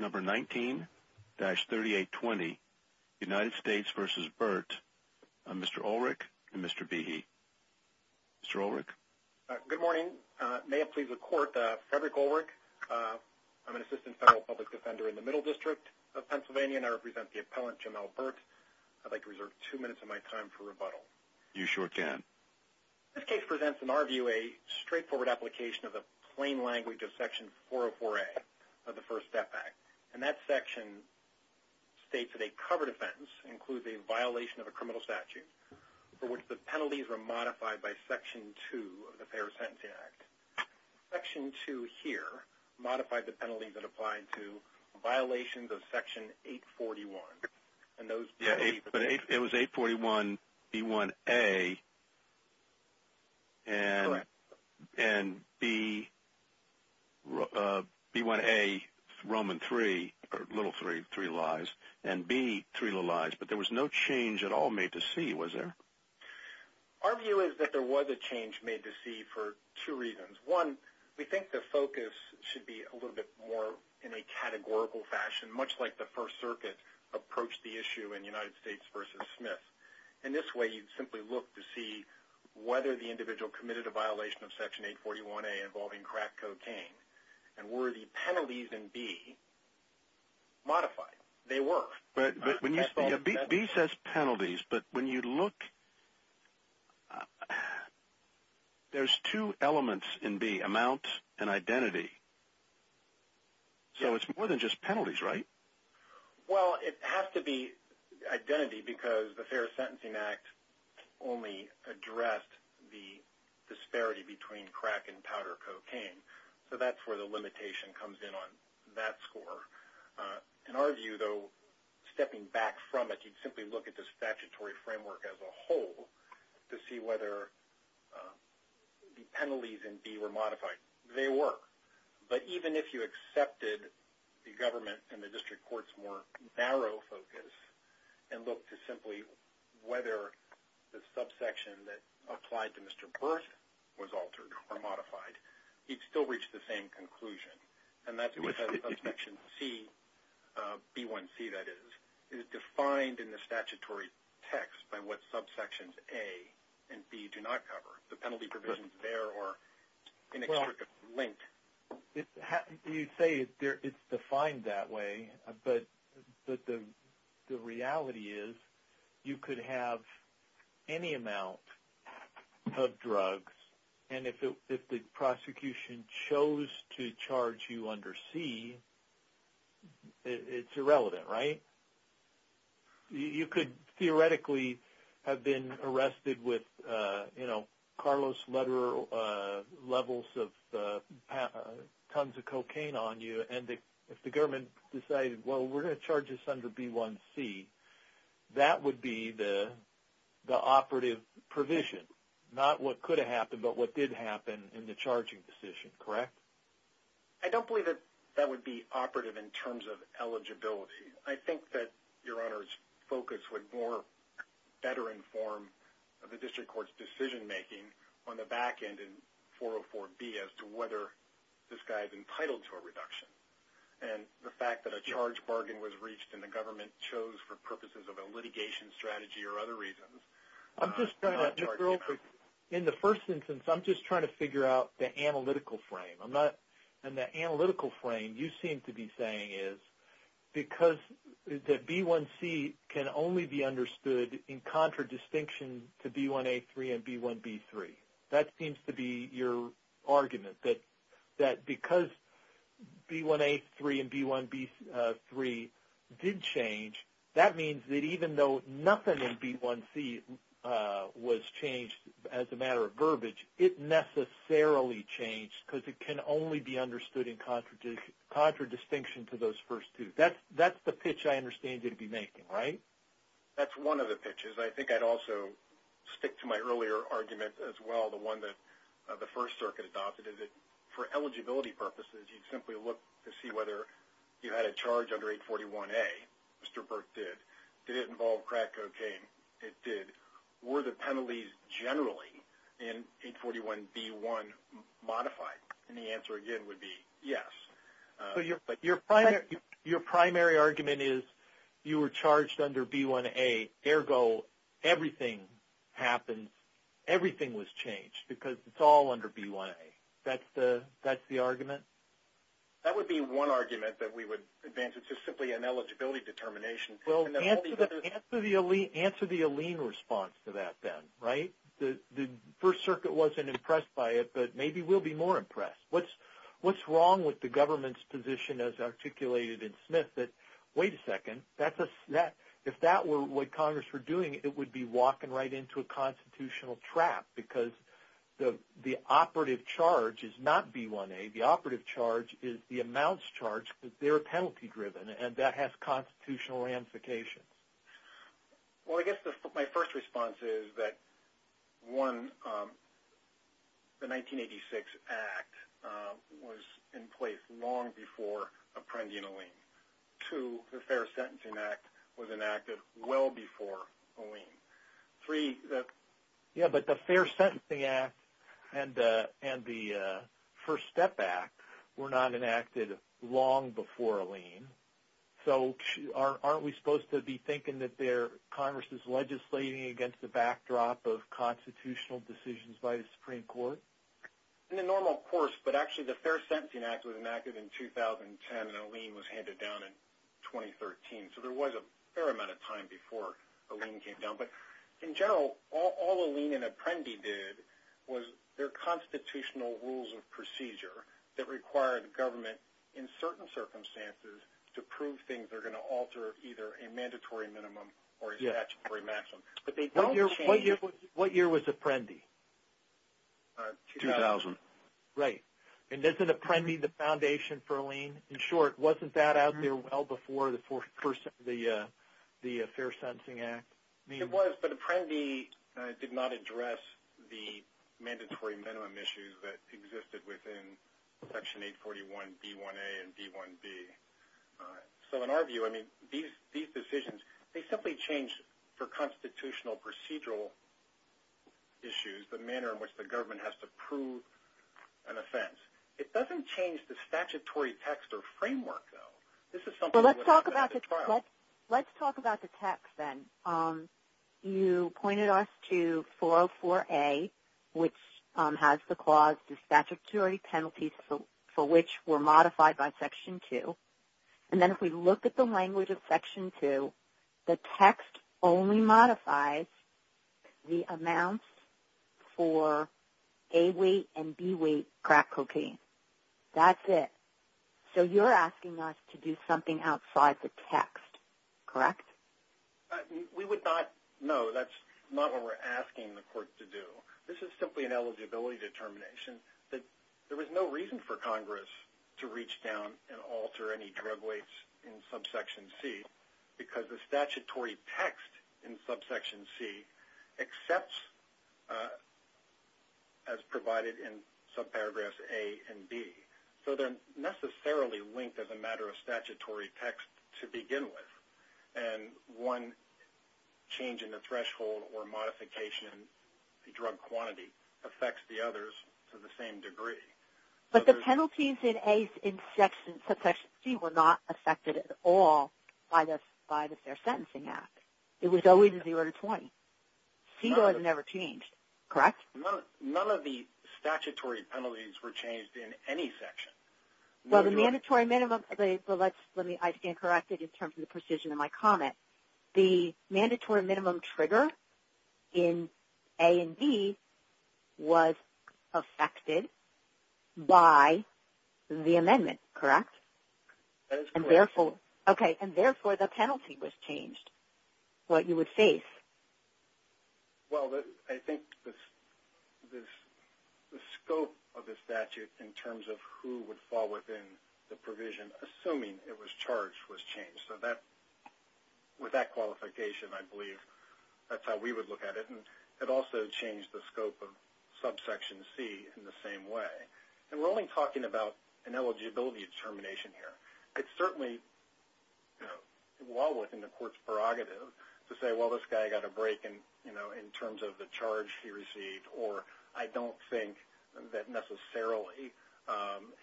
19-3820 United States v. Birt, Mr. Ulrich and Mr. Behe. Mr. Ulrich? Good morning. May it please the Court, Frederick Ulrich. I'm an Assistant Federal Public Defender in the Middle District of Pennsylvania and I represent the appellant, Jim Albert. I'd like to reserve two minutes of my time for rebuttal. You sure can. This case presents, in our view, a straightforward application of the plain language of Section 404A of the First Step Act. And that section states that a covered offense includes a violation of a criminal statute for which the penalties were modified by Section 2 of the Fair Sentencing Act. Section 2 here modified the penalties that applied to violations of Section 841. Yeah, but it was 841B1A and B1A Roman 3, or little 3, three lies, and B, three little lies. But there was no change at all made to C, was there? Our view is that there was a change made to C for two reasons. One, we think the focus should be a little bit more in a categorical fashion, much like the First Circuit approached the issue in United States v. Smith. In this way, you'd simply look to see whether the individual committed a violation of Section 841A involving crack cocaine and were the penalties in B modified. They were. B says penalties, but when you look, there's two elements in B, amount and identity. So it's more than just penalties, right? Well, it has to be identity because the Fair Sentencing Act only addressed the disparity between crack and powder cocaine. So that's where the limitation comes in on that score. In our view, though, stepping back from it, you'd simply look at the statutory framework as a whole to see whether the penalties in B were modified. They were. But even if you accepted the government and the district court's more narrow focus and looked to simply whether the subsection that applied to Mr. Berth was altered or modified, he'd still reach the same conclusion. And that's because of Section C, B1C, that is. It is defined in the statutory text by what subsections A and B do not cover. The penalty provisions there are inextricably linked. You say it's defined that way, but the reality is you could have any amount of drugs, and if the prosecution chose to charge you under C, it's irrelevant, right? You could theoretically have been arrested with, you know, Carlos Lederer levels of tons of cocaine on you, and if the government decided, well, we're going to charge this under B1C, that would be the operative provision. Not what could have happened, but what did happen in the charging decision, correct? I don't believe that that would be operative in terms of eligibility. I think that Your Honor's focus would better inform the district court's decision-making on the back end in 404B as to whether this guy is entitled to a reduction. And the fact that a charge bargain was reached and the government chose for purposes of a litigation strategy or other reasons. In the first instance, I'm just trying to figure out the analytical frame. And the analytical frame you seem to be saying is because the B1C can only be understood in contradistinction to B1A3 and B1B3. That seems to be your argument, that because B1A3 and B1B3 did change, that means that even though nothing in B1C was changed as a matter of verbiage, it necessarily changed because it can only be understood in contradistinction to those first two. That's the pitch I understand you to be making, right? That's one of the pitches. I think I'd also stick to my earlier argument as well, the one that the First Circuit adopted. For eligibility purposes, you'd simply look to see whether you had a charge under 841A. Mr. Burke did. Did it involve crack cocaine? It did. Were the penalties generally in 841B1 modified? And the answer, again, would be yes. Your primary argument is you were charged under B1A, ergo everything happened, everything was changed because it's all under B1A. That's the argument? That would be one argument that we would advance. It's just simply an eligibility determination. Well, answer the Alene response to that then, right? The First Circuit wasn't impressed by it, but maybe we'll be more impressed. What's wrong with the government's position as articulated in Smith that, wait a second, if that were what Congress were doing, it would be walking right into a constitutional trap because the operative charge is not B1A. The operative charge is the amounts charged because they're penalty-driven, and that has constitutional ramifications. Well, I guess my first response is that, one, the 1986 Act was in place long before apprending Alene. Two, the Fair Sentencing Act was enacted well before Alene. Three, the – Yeah, but the Fair Sentencing Act and the First Step Act were not enacted long before Alene, so aren't we supposed to be thinking that Congress is legislating against the backdrop of constitutional decisions by the Supreme Court? In the normal course, but actually the Fair Sentencing Act was enacted in 2010 and Alene was handed down in 2013, so there was a fair amount of time before Alene came down. But in general, all Alene and Apprendi did was their constitutional rules of procedure that require the government in certain circumstances to prove things are going to alter either a mandatory minimum or a statutory maximum. What year was Apprendi? 2000. Right. And isn't Apprendi the foundation for Alene? In short, wasn't that out there well before the Fair Sentencing Act? It was, but Apprendi did not address the mandatory minimum issues that existed within Section 841B1A and B1B. So in our view, I mean, these decisions, they simply changed for constitutional procedural issues, the manner in which the government has to prove an offense. It doesn't change the statutory text or framework, though. Let's talk about the text then. You pointed us to 404A, which has the clause, the statutory penalties for which were modified by Section 2. And then if we look at the language of Section 2, the text only modifies the amounts for A weight and B weight crack cocaine. That's it. So you're asking us to do something outside the text, correct? We would not. No, that's not what we're asking the court to do. This is simply an eligibility determination. There was no reason for Congress to reach down and alter any drug weights in subsection C because the statutory text in subsection C accepts as provided in subparagraphs A and B. So they're necessarily linked as a matter of statutory text to begin with. And one change in the threshold or modification of the drug quantity affects the others to the same degree. But the penalties in A's in subsection C were not affected at all by the Fair Sentencing Act. It was always a 0 to 20. C was never changed, correct? None of the statutory penalties were changed in any section. Well, the mandatory minimum, but I stand corrected in terms of the precision of my comment. The mandatory minimum trigger in A and B was affected by the amendment, correct? That is correct. Okay, and therefore the penalty was changed, what you would face. Well, I think the scope of the statute in terms of who would fall within the provision, assuming it was charged, was changed. So with that qualification, I believe that's how we would look at it. And it also changed the scope of subsection C in the same way. And we're only talking about an eligibility determination here. It's certainly well within the court's prerogative to say, well, this guy got a break in terms of the charge he received, or I don't think that necessarily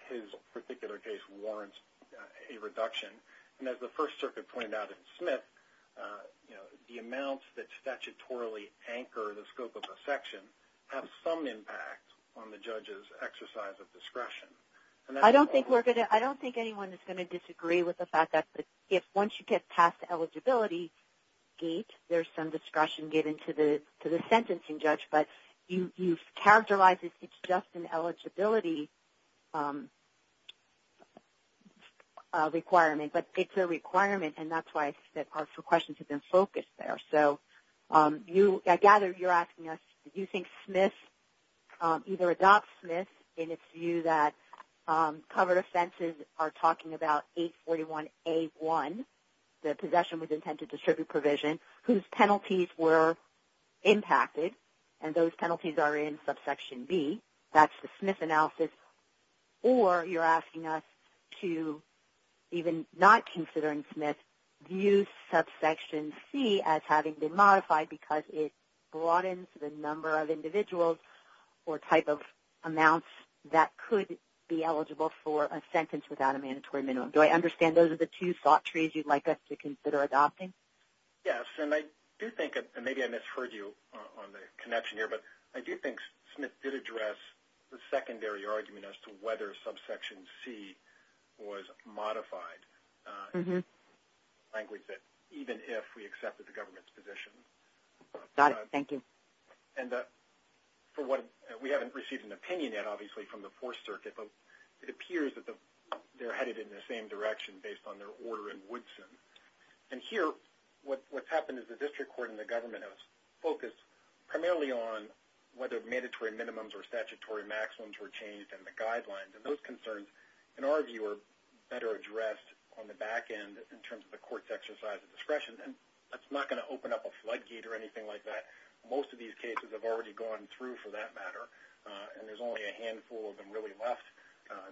his particular case warrants a reduction. And as the First Circuit pointed out in Smith, the amounts that statutorily anchor the scope of a section have some impact on the judge's exercise of discretion. I don't think anyone is going to disagree with the fact that once you get past the eligibility gate, there's some discretion given to the sentencing judge. But you've characterized it's just an eligibility requirement. But it's a requirement, and that's why our questions have been focused there. So I gather you're asking us, do you think Smith either adopts Smith in its view that covered offenses are talking about 841A1, the possession with intent to distribute provision, whose penalties were impacted, and those penalties are in subsection B, that's the Smith analysis, or you're asking us to, even not considering Smith, view subsection C as having been modified because it broadens the number of individuals or type of amounts that could be eligible for a sentence without a mandatory minimum. Do I understand those are the two thought trees you'd like us to consider adopting? Yes, and I do think, and maybe I misheard you on the connection here, but I do think Smith did address the secondary argument as to whether subsection C was modified, in the language that even if we accepted the government's position. Got it. Thank you. And for what we haven't received an opinion yet, obviously, from the Fourth Circuit, but it appears that they're headed in the same direction based on their order in Woodson. And here, what's happened is the district court and the government have focused primarily on whether mandatory minimums or statutory maximums were changed in the guidelines, and those concerns, in our view, are better addressed on the back end in terms of the court's exercise of discretion, and that's not going to open up a floodgate or anything like that. Most of these cases have already gone through, for that matter, and there's only a handful of them really left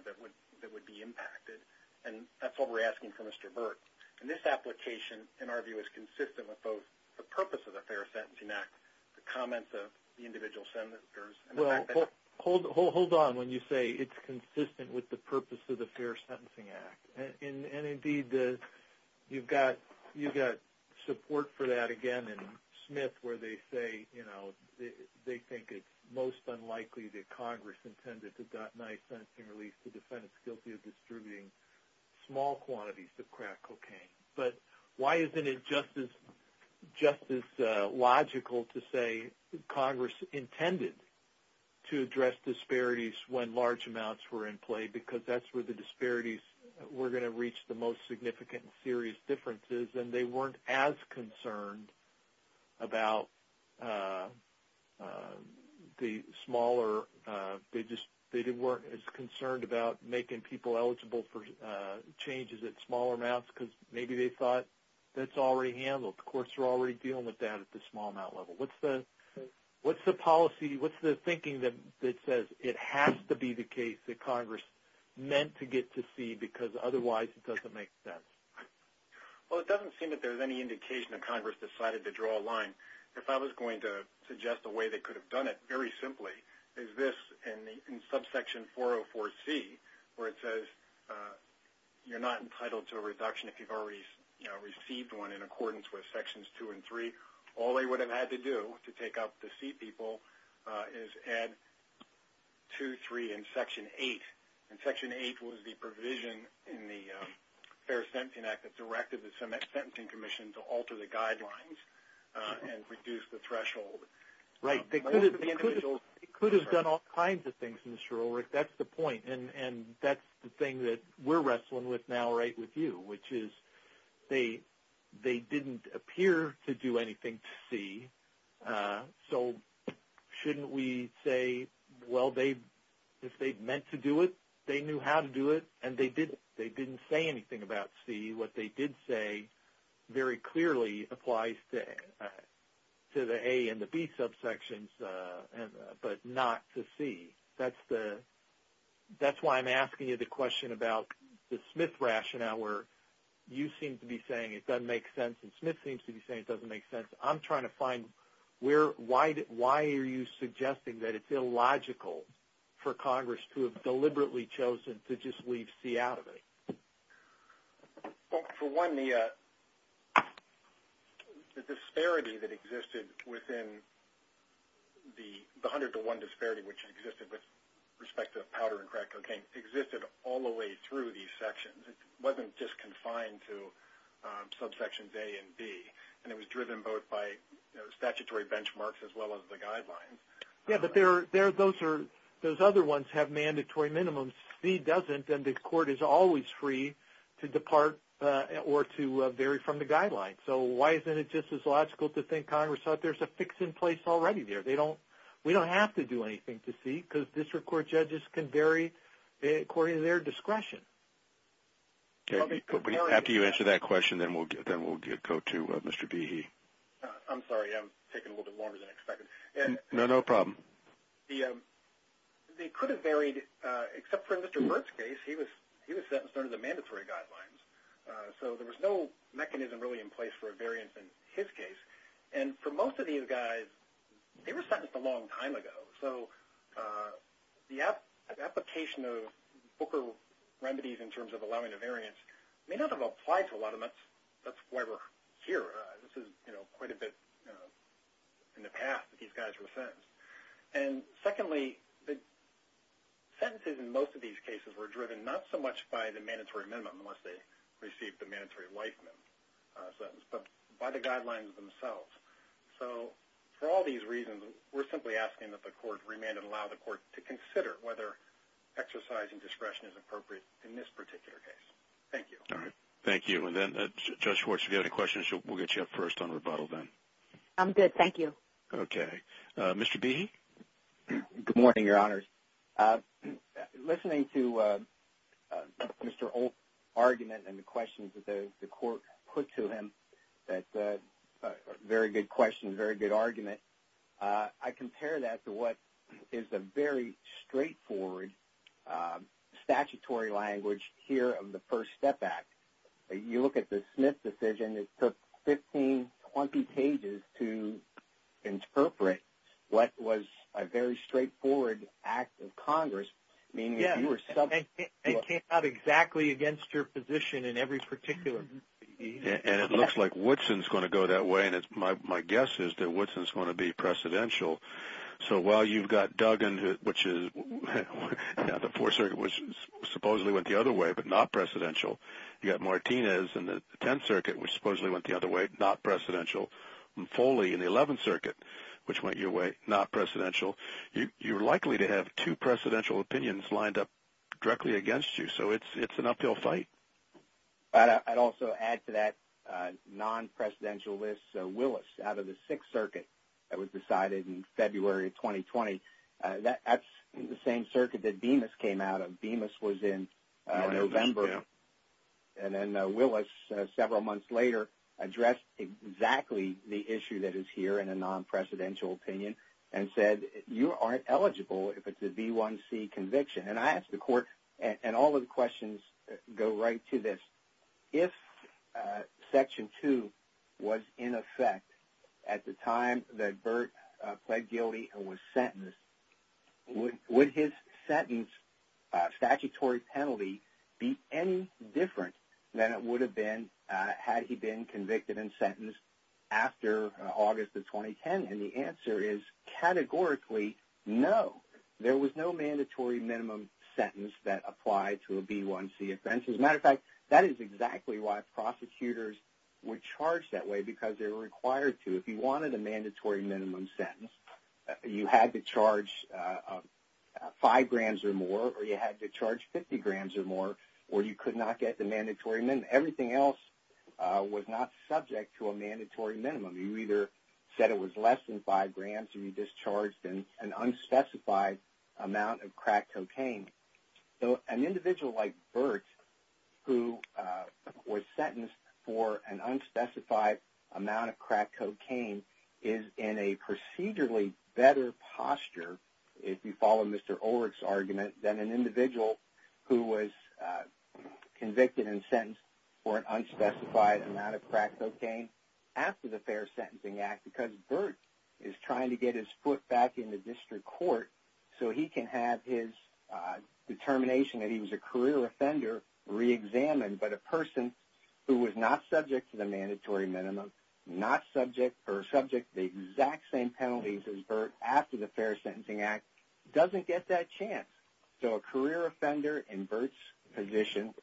that would be impacted, and that's what we're asking from Mr. Burt. And this application, in our view, is consistent with both the purpose of the Fair Sentencing Act, the comments of the individual senators, and the fact that the – Well, hold on when you say it's consistent with the purpose of the Fair Sentencing Act. And, indeed, you've got support for that, again, in Smith, where they say, you know, they think it's most unlikely that Congress intended to address small quantities of crack cocaine. But why isn't it just as logical to say Congress intended to address disparities when large amounts were in play, because that's where the disparities were going to reach the most significant and serious differences, and they weren't as concerned about the smaller – they weren't as concerned about making people eligible for changes at smaller amounts because maybe they thought that's already handled. Of course, they're already dealing with that at the small amount level. What's the policy – what's the thinking that says it has to be the case that Congress meant to get to see, because otherwise it doesn't make sense? Well, it doesn't seem that there's any indication that Congress decided to draw a line. If I was going to suggest a way they could have done it, very simply, is this in subsection 404C, where it says you're not entitled to a reduction if you've already, you know, received one in accordance with Sections 2 and 3. All they would have had to do to take up to see people is add 2, 3, and Section 8. And Section 8 was the provision in the Fair Sentencing Act that directed the Sentencing Commission to alter the guidelines. And reduce the threshold. Right. It could have done all kinds of things, Mr. Ulrich. That's the point. And that's the thing that we're wrestling with now right with you, which is they didn't appear to do anything to see. So shouldn't we say, well, if they meant to do it, they knew how to do it, and they didn't say anything about see. What they did say very clearly applies to the A and the B subsections, but not to C. That's why I'm asking you the question about the Smith rationale where you seem to be saying it doesn't make sense and Smith seems to be saying it doesn't make sense. I'm trying to find why are you suggesting that it's illogical for Congress to have deliberately chosen to just leave C out of it? For one, the disparity that existed within the 100 to 1 disparity, which existed with respect to powder and crack cocaine, existed all the way through these sections. It wasn't just confined to subsections A and B. And it was driven both by statutory benchmarks as well as the guidelines. Yeah, but those other ones have mandatory minimums. C doesn't, and the court is always free to depart or to vary from the guidelines. So why isn't it just as logical to think Congress thought there's a fix in place already there? We don't have to do anything to C because district court judges can vary according to their discretion. After you answer that question, then we'll go to Mr. Behe. I'm sorry. I'm taking a little bit longer than expected. No, no problem. They could have varied, except for in Mr. Burt's case, he was sentenced under the mandatory guidelines. So there was no mechanism really in place for a variance in his case. And for most of these guys, they were sentenced a long time ago. So the application of Booker remedies in terms of allowing a variance may not have applied to a lot of them. That's why we're here. This is quite a bit in the past that these guys were sentenced. And secondly, sentences in most of these cases were driven not so much by the mandatory minimum, unless they received the mandatory life sentence, but by the guidelines themselves. So for all these reasons, we're simply asking that the court remand and allow the court to consider whether exercising discretion is appropriate in this particular case. Thank you. All right. Thank you. And then, Judge Schwartz, if you have any questions, we'll get you up first on rebuttal then. I'm good. Thank you. Okay. Mr. Behe? Good morning, Your Honors. Listening to Mr. Olt's argument and the questions that the court put to him, very good questions, very good argument, I compare that to what is a very straightforward statutory language here of the First Step Act. You look at the Smith decision, it took 15, 20 pages to interpret what was a very straightforward act of Congress. It came out exactly against your position in every particular case. And it looks like Woodson's going to go that way, and my guess is that Woodson's going to be precedential. So while you've got Duggan, which is the Fourth Circuit, which supposedly went the other way but not precedential, you've got Martinez in the Tenth Circuit, which supposedly went the other way, not precedential, and Foley in the Eleventh Circuit, which went your way, not precedential. You're likely to have two precedential opinions lined up directly against you, so it's an uphill fight. I'd also add to that non-precedentialist Willis out of the Sixth Circuit that was decided in February of 2020. That's the same circuit that Bemis came out of. Bemis was in November, and then Willis, several months later, addressed exactly the issue that is here in a non-precedential opinion and said you aren't eligible if it's a B1C conviction. And I asked the court, and all of the questions go right to this. If Section 2 was in effect at the time that Burt pled guilty and was sentenced, would his sentence statutory penalty be any different than it would have been had he been convicted and sentenced after August of 2010? And the answer is categorically no. There was no mandatory minimum sentence that applied to a B1C offense. As a matter of fact, that is exactly why prosecutors were charged that way, because they were required to. If you wanted a mandatory minimum sentence, you had to charge five grams or more, or you had to charge 50 grams or more, or you could not get the mandatory minimum. Everything else was not subject to a mandatory minimum. You either said it was less than five grams, or you discharged an unspecified amount of crack cocaine. So an individual like Burt, who was sentenced for an unspecified amount of crack cocaine, is in a procedurally better posture, if you follow Mr. Ulrich's argument, than an individual who was convicted and sentenced for an unspecified amount of crack cocaine after the Fair Sentencing Act, because Burt is trying to get his foot back in the district court so he can have his determination that he was a career offender reexamined. But a person who was not subject to the mandatory minimum, or subject to the exact same penalties as Burt after the Fair Sentencing Act, doesn't get that chance. So a career offender in Burt's position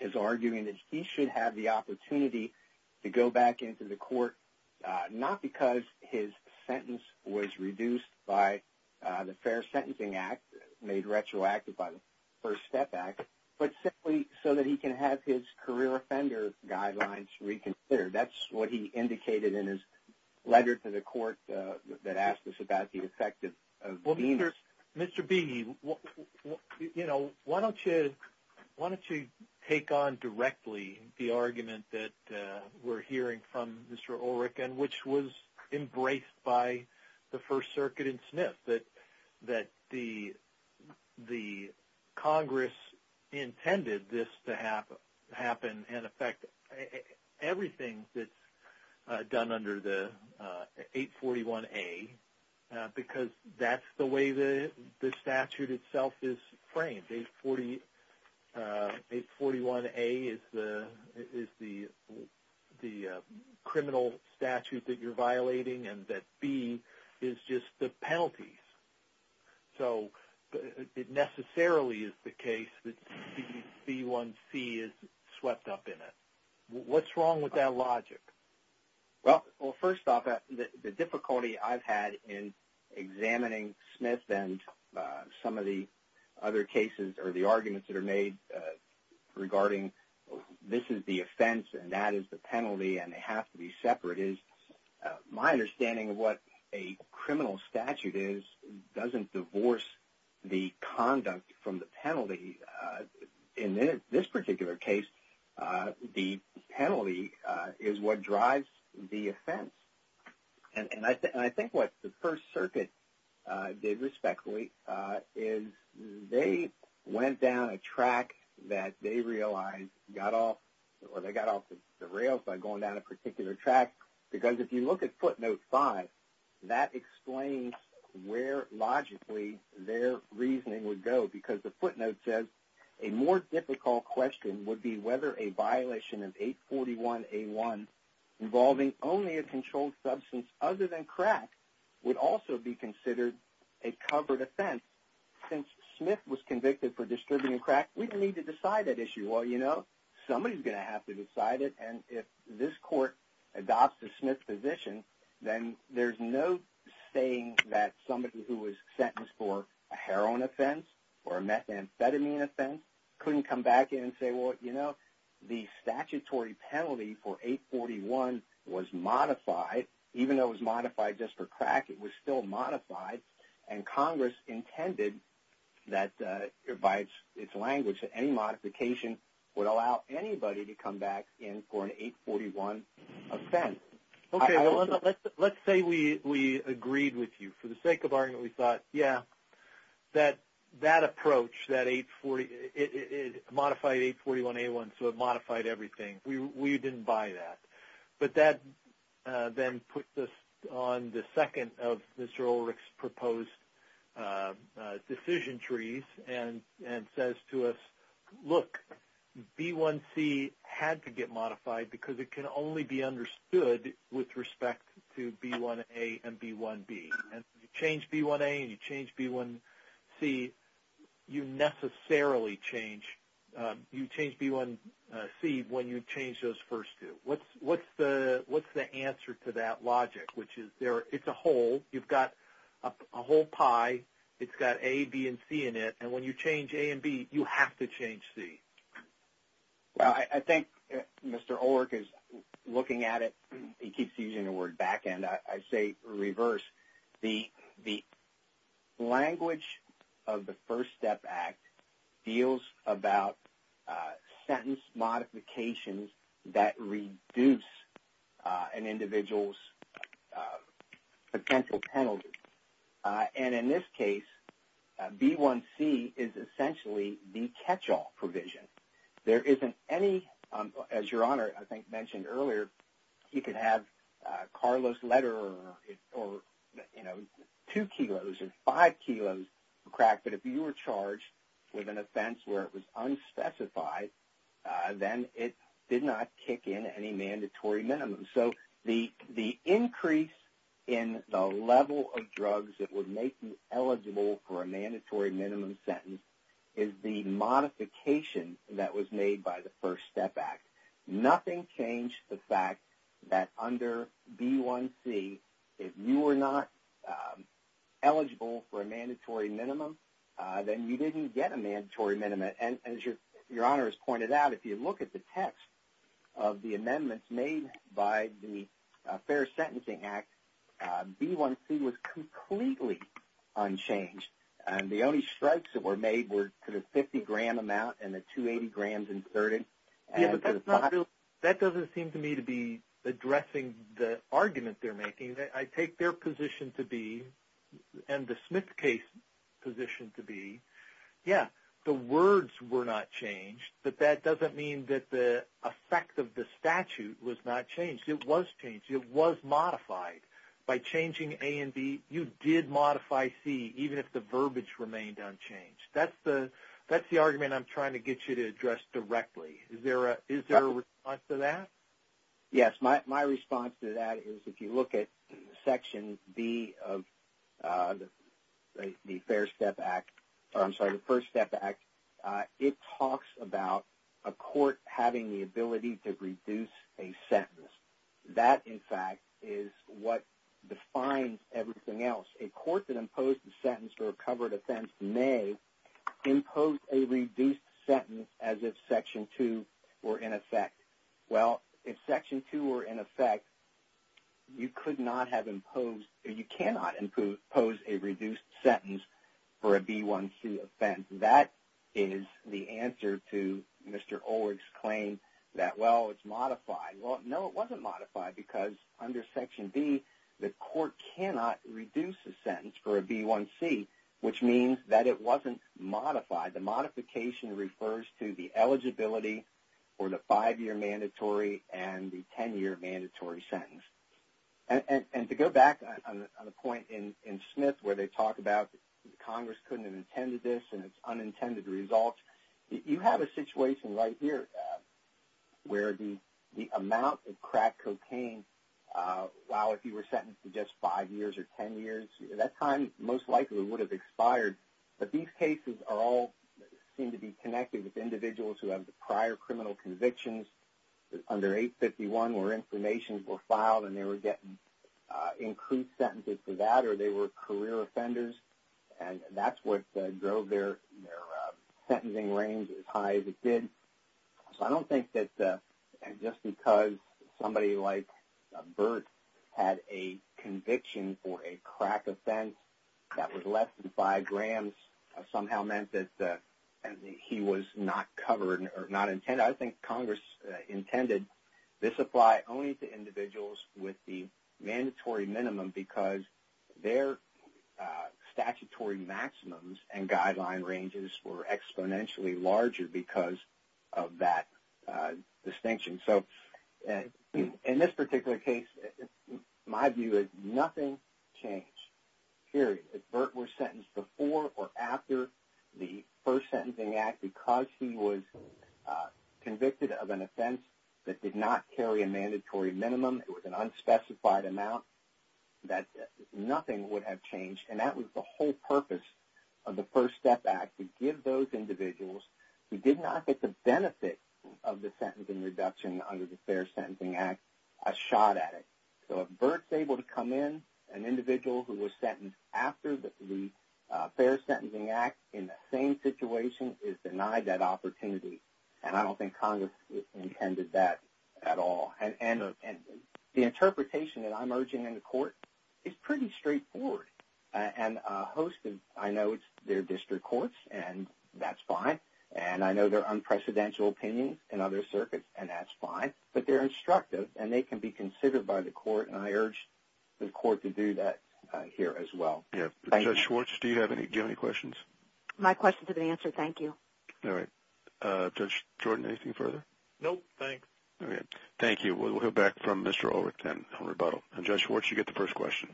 is arguing that he should have the opportunity to go back into the court, not because his sentence was reduced by the Fair Sentencing Act, made retroactive by the First Step Act, but simply so that he can have his career offender guidelines reconsidered. That's what he indicated in his letter to the court that asked us about the effect of the means. Well, Mr. Beeney, why don't you take on directly the argument that we're hearing from Mr. Ulrich, and which was embraced by the First Circuit and Smith, that the Congress intended this to happen and affect everything that's done under the 841A, because that's the way the statute itself is framed. 841A is the criminal statute that you're violating, and that B is just the penalties. So it necessarily is the case that B1C is swept up in it. What's wrong with that logic? Well, first off, the difficulty I've had in examining Smith and some of the other cases or the arguments that are made regarding this is the offense and that is the penalty and they have to be separate is my understanding of what a criminal statute is doesn't divorce the conduct from the penalty. In this particular case, the penalty is what drives the offense. And I think what the First Circuit did respectfully is they went down a track that they realized got off or they got off the rails by going down a particular track, because if you look at footnote 5, that explains where logically their reasoning would go, because the footnote says, a more difficult question would be whether a violation of 841A1 involving only a controlled substance other than crack would also be considered a covered offense. Since Smith was convicted for distributing crack, we don't need to decide that issue. Well, you know, somebody's going to have to decide it, and if this court adopts a Smith position, then there's no saying that somebody who was sentenced for a heroin offense or a methamphetamine offense couldn't come back in and say, well, you know, the statutory penalty for 841 was modified, even though it was modified just for crack, it was still modified, and Congress intended that, by its language, that any modification would allow anybody to come back in for an 841 offense. Okay, let's say we agreed with you. For the sake of argument, we thought, yeah, that approach, that 840, it modified 841A1, so it modified everything. We didn't buy that. But that then put us on the second of Mr. Ulrich's proposed decision trees and says to us, look, B1C had to get modified because it can only be understood with respect to B1A and B1B, and you change B1A and you change B1C, you necessarily change, you change B1C when you change those first two. What's the answer to that logic, which is it's a whole, you've got a whole pie, it's got A, B, and C in it, and when you change A and B, you have to change C? Well, I think Mr. Ulrich is looking at it, he keeps using the word back end, I say reverse. The language of the First Step Act deals about sentence modifications that reduce an individual's potential penalty. And in this case, B1C is essentially the catch-all provision. There isn't any, as Your Honor I think mentioned earlier, you could have Carlos Lederer or, you know, two kilos or five kilos cracked, but if you were charged with an offense where it was unspecified, then it did not kick in any mandatory minimum. So the increase in the level of drugs that would make you eligible for a mandatory minimum sentence is the modification that was made by the First Step Act. Nothing changed the fact that under B1C, if you were not eligible for a mandatory minimum, then you didn't get a mandatory minimum. And as Your Honor has pointed out, if you look at the text of the amendments made by the Fair Sentencing Act, B1C was completely unchanged. The only strikes that were made were to the 50-gram amount and the 280 grams inserted. Yeah, but that doesn't seem to me to be addressing the argument they're making. I take their position to be, and the Smith case position to be, yeah, the words were not changed, but that doesn't mean that the effect of the statute was not changed. It was changed. It was modified. By changing A and B, you did modify C, even if the verbiage remained unchanged. That's the argument I'm trying to get you to address directly. Is there a response to that? Yes, my response to that is if you look at Section B of the First Step Act, it talks about a court having the ability to reduce a sentence. That, in fact, is what defines everything else. A court that imposed a sentence for a covered offense may impose a reduced sentence as if Section 2 were in effect. Well, if Section 2 were in effect, you could not have imposed or you cannot impose a reduced sentence for a B1C offense. That is the answer to Mr. Ulrich's claim that, well, it's modified. Well, no, it wasn't modified because under Section B, the court cannot reduce a sentence for a B1C, which means that it wasn't modified. The modification refers to the eligibility for the five-year mandatory and the ten-year mandatory sentence. And to go back on the point in Smith where they talk about Congress couldn't have intended this and it's unintended results, you have a situation right here where the amount of crack cocaine, well, if you were sentenced to just five years or ten years, that time most likely would have expired. But these cases all seem to be connected with individuals who have prior criminal convictions under 851 where information were filed and they were getting increased sentences for that or they were career offenders. And that's what drove their sentencing range as high as it did. So I don't think that just because somebody like Bert had a conviction for a crack offense that was less than five grams somehow meant that he was not covered or not intended. I think Congress intended this apply only to individuals with the mandatory minimum because their statutory maximums and guideline ranges were exponentially larger because of that distinction. So in this particular case, my view is nothing changed, period. If Bert was sentenced before or after the First Sentencing Act because he was convicted of an offense that did not carry a mandatory minimum, it was an unspecified amount, that nothing would have changed. And that was the whole purpose of the First Step Act, to give those individuals who did not get the benefit of the sentencing reduction under the Fair Sentencing Act a shot at it. So if Bert's able to come in, an individual who was sentenced after the Fair Sentencing Act in the same situation is denied that opportunity. And I don't think Congress intended that at all. And the interpretation that I'm urging in the court is pretty straightforward. And I know it's their district courts, and that's fine. And I know there are unprecedented opinions in other circuits, and that's fine. But they're instructive, and they can be considered by the court, and I urge the court to do that here as well. Thank you. Judge Schwartz, do you have any questions? My questions have been answered. Thank you. All right. Judge Jordan, anything further? No, thanks. All right. Thank you. We'll go back from Mr. Ulrich then on rebuttal. And, Judge Schwartz, you get the first question.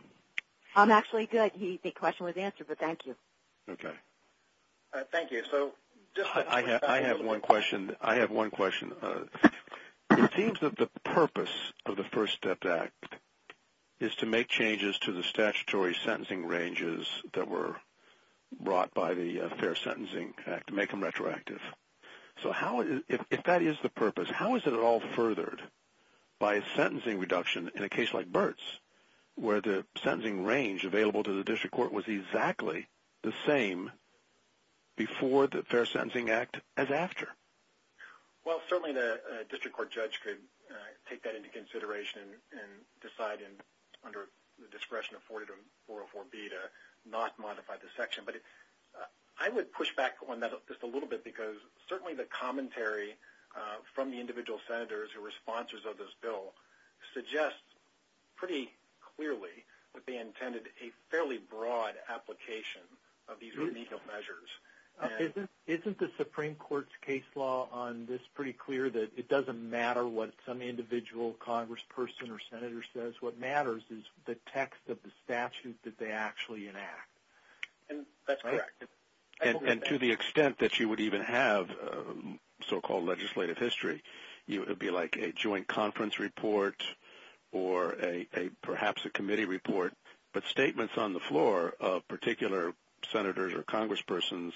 I'm actually good. The question was answered, but thank you. Okay. Thank you. So I have one question. I have one question. It seems that the purpose of the First Step Act is to make changes to the statutory sentencing ranges that were brought by the Fair Sentencing Act to make them retroactive. So if that is the purpose, how is it at all furthered by a sentencing reduction in a case like Burt's where the sentencing range available to the district court was exactly the same before the Fair Sentencing Act as after? Well, certainly the district court judge could take that into consideration and decide under the discretion of 404B to not modify the section. But I would push back on that just a little bit because certainly the commentary from the individual senators who were sponsors of this bill suggests pretty clearly that they intended a fairly broad application of these remedial measures. Isn't the Supreme Court's case law on this pretty clear that it doesn't matter what some individual congressperson or senator says? What matters is the text of the statute that they actually enact. That's correct. And to the extent that you would even have so-called legislative history, it would be like a joint conference report or perhaps a committee report, but statements on the floor of particular senators or congresspersons,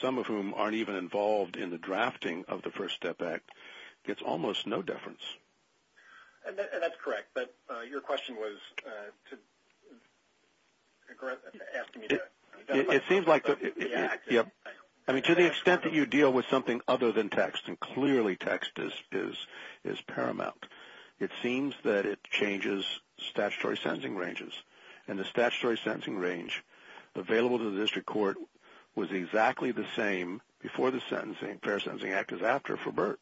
some of whom aren't even involved in the drafting of the First Step Act, gets almost no deference. And that's correct. But your question was asking me to... It seems like to the extent that you deal with something other than text, and clearly text is paramount, it seems that it changes statutory sentencing ranges. And the statutory sentencing range available to the district court was exactly the same before the Fair Sentencing Act as after for Burt.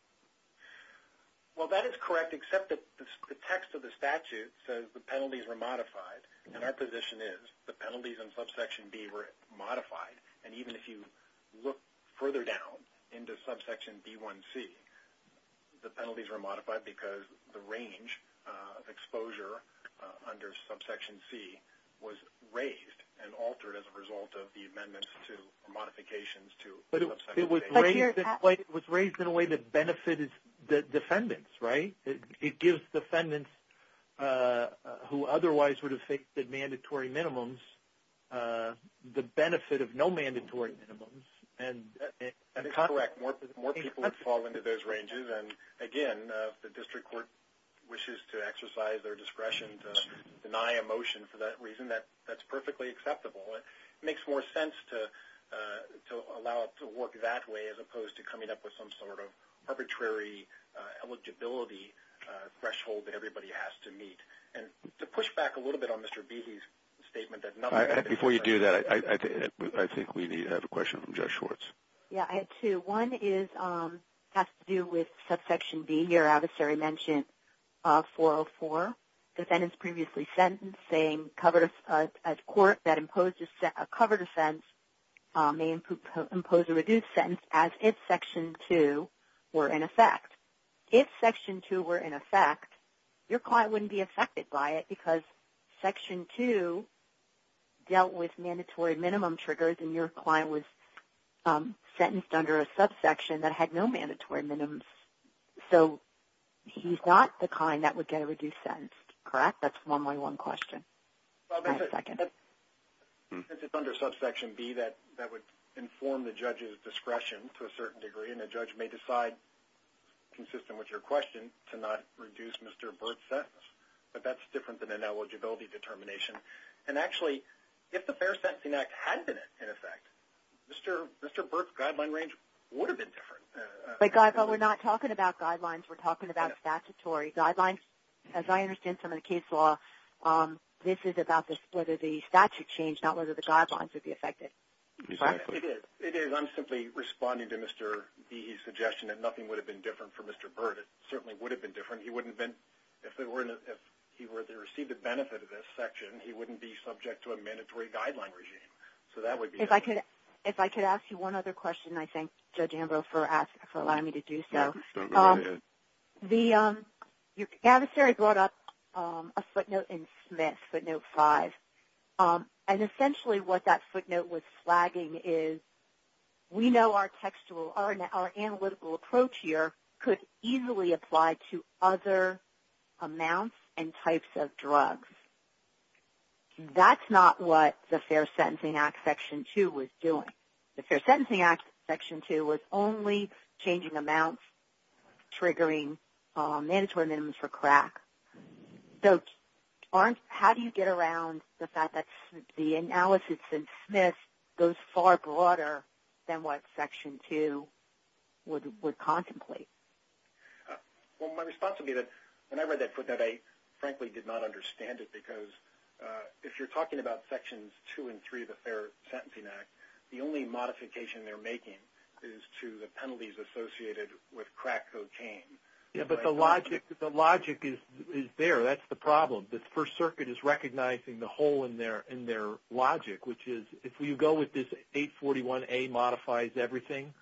Well, that is correct, except that the text of the statute says the penalties were modified. And our position is the penalties in Subsection B were modified. And even if you look further down into Subsection B1C, the penalties were modified because the range of exposure under Subsection C was raised and altered as a result of the amendments or modifications to Subsection A. But it was raised in a way that benefited the defendants, right? It gives defendants who otherwise would have faked the mandatory minimums the benefit of no mandatory minimums. That is correct. More people would fall into those ranges. And, again, if the district court wishes to exercise their discretion to deny a motion for that reason, that's perfectly acceptable. It makes more sense to allow it to work that way as opposed to coming up with some sort of arbitrary eligibility threshold that everybody has to meet. And to push back a little bit on Mr. Behe's statement that none of that is necessary. Before you do that, I think we have a question from Judge Schwartz. Yes, I have two. One has to do with Subsection B. Your adversary mentioned 404, defendant's previously sentenced, saying a court that imposed a covered offense may impose a reduced sentence as if Section 2 were in effect. If Section 2 were in effect, your client wouldn't be affected by it because Section 2 dealt with mandatory minimum triggers and your client was sentenced under a subsection that had no mandatory minimums. So he's not the kind that would get a reduced sentence, correct? That's a one-on-one question. Go ahead for a second. It's under Subsection B that would inform the judge's discretion to a certain degree, and a judge may decide, consistent with your question, to not reduce Mr. Burt's sentence. But that's different than an eligibility determination. And, actually, if the Fair Sentencing Act had been in effect, Mr. Burt's guideline range would have been different. But, Guy, we're not talking about guidelines. We're talking about statutory guidelines. As I understand from the case law, this is about whether the statute changed, not whether the guidelines would be affected. It is. I'm simply responding to Mr. Behe's suggestion that nothing would have been different for Mr. Burt. It certainly would have been different. If he were to receive the benefit of this section, he wouldn't be subject to a mandatory guideline regime. So that would be different. If I could ask you one other question, I thank Judge Ambrose for allowing me to do so. Go ahead. The adversary brought up a footnote in Smith, footnote 5. And, essentially, what that footnote was flagging is we know our analytical approach here could easily apply to other amounts and types of drugs. That's not what the Fair Sentencing Act Section 2 was doing. The Fair Sentencing Act Section 2 was only changing amounts, triggering mandatory minimums for crack. So how do you get around the fact that the analysis in Smith goes far broader than what Section 2 would contemplate? Well, my response would be that when I read that footnote, I frankly did not understand it. Because if you're talking about Sections 2 and 3 of the Fair Sentencing Act, the only modification they're making is to the penalties associated with crack cocaine. Yeah, but the logic is there. That's the problem. The First Circuit is recognizing the hole in their logic, which is if you go with this 841A modifies everything,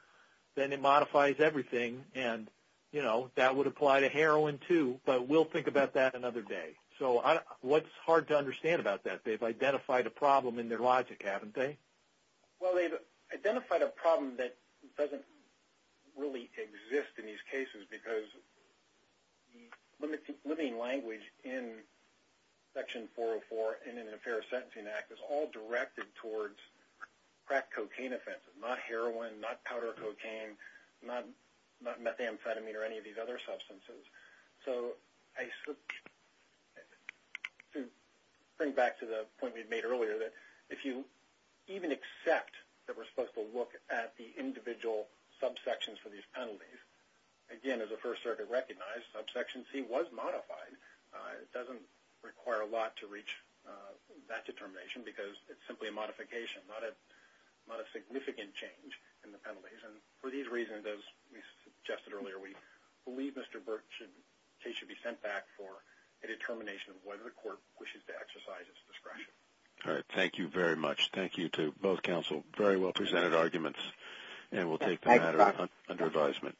then it modifies everything. And, you know, that would apply to heroin, too. But we'll think about that another day. So what's hard to understand about that? They've identified a problem in their logic, haven't they? Well, they've identified a problem that doesn't really exist in these cases because the limiting language in Section 404 and in the Fair Sentencing Act is all directed towards crack cocaine offenses, not heroin, not powder cocaine, not methamphetamine or any of these other substances. So to bring back to the point we made earlier that if you even accept that we're supposed to look at the individual subsections for these penalties, again, as the First Circuit recognized, subsection C was modified. It doesn't require a lot to reach that determination because it's simply a modification, and for these reasons, as we suggested earlier, we believe Mr. Burke's case should be sent back for a determination of whether the court wishes to exercise its discretion. All right. Thank you very much. Thank you to both counsel. Very well presented arguments, and we'll take the matter under advisement.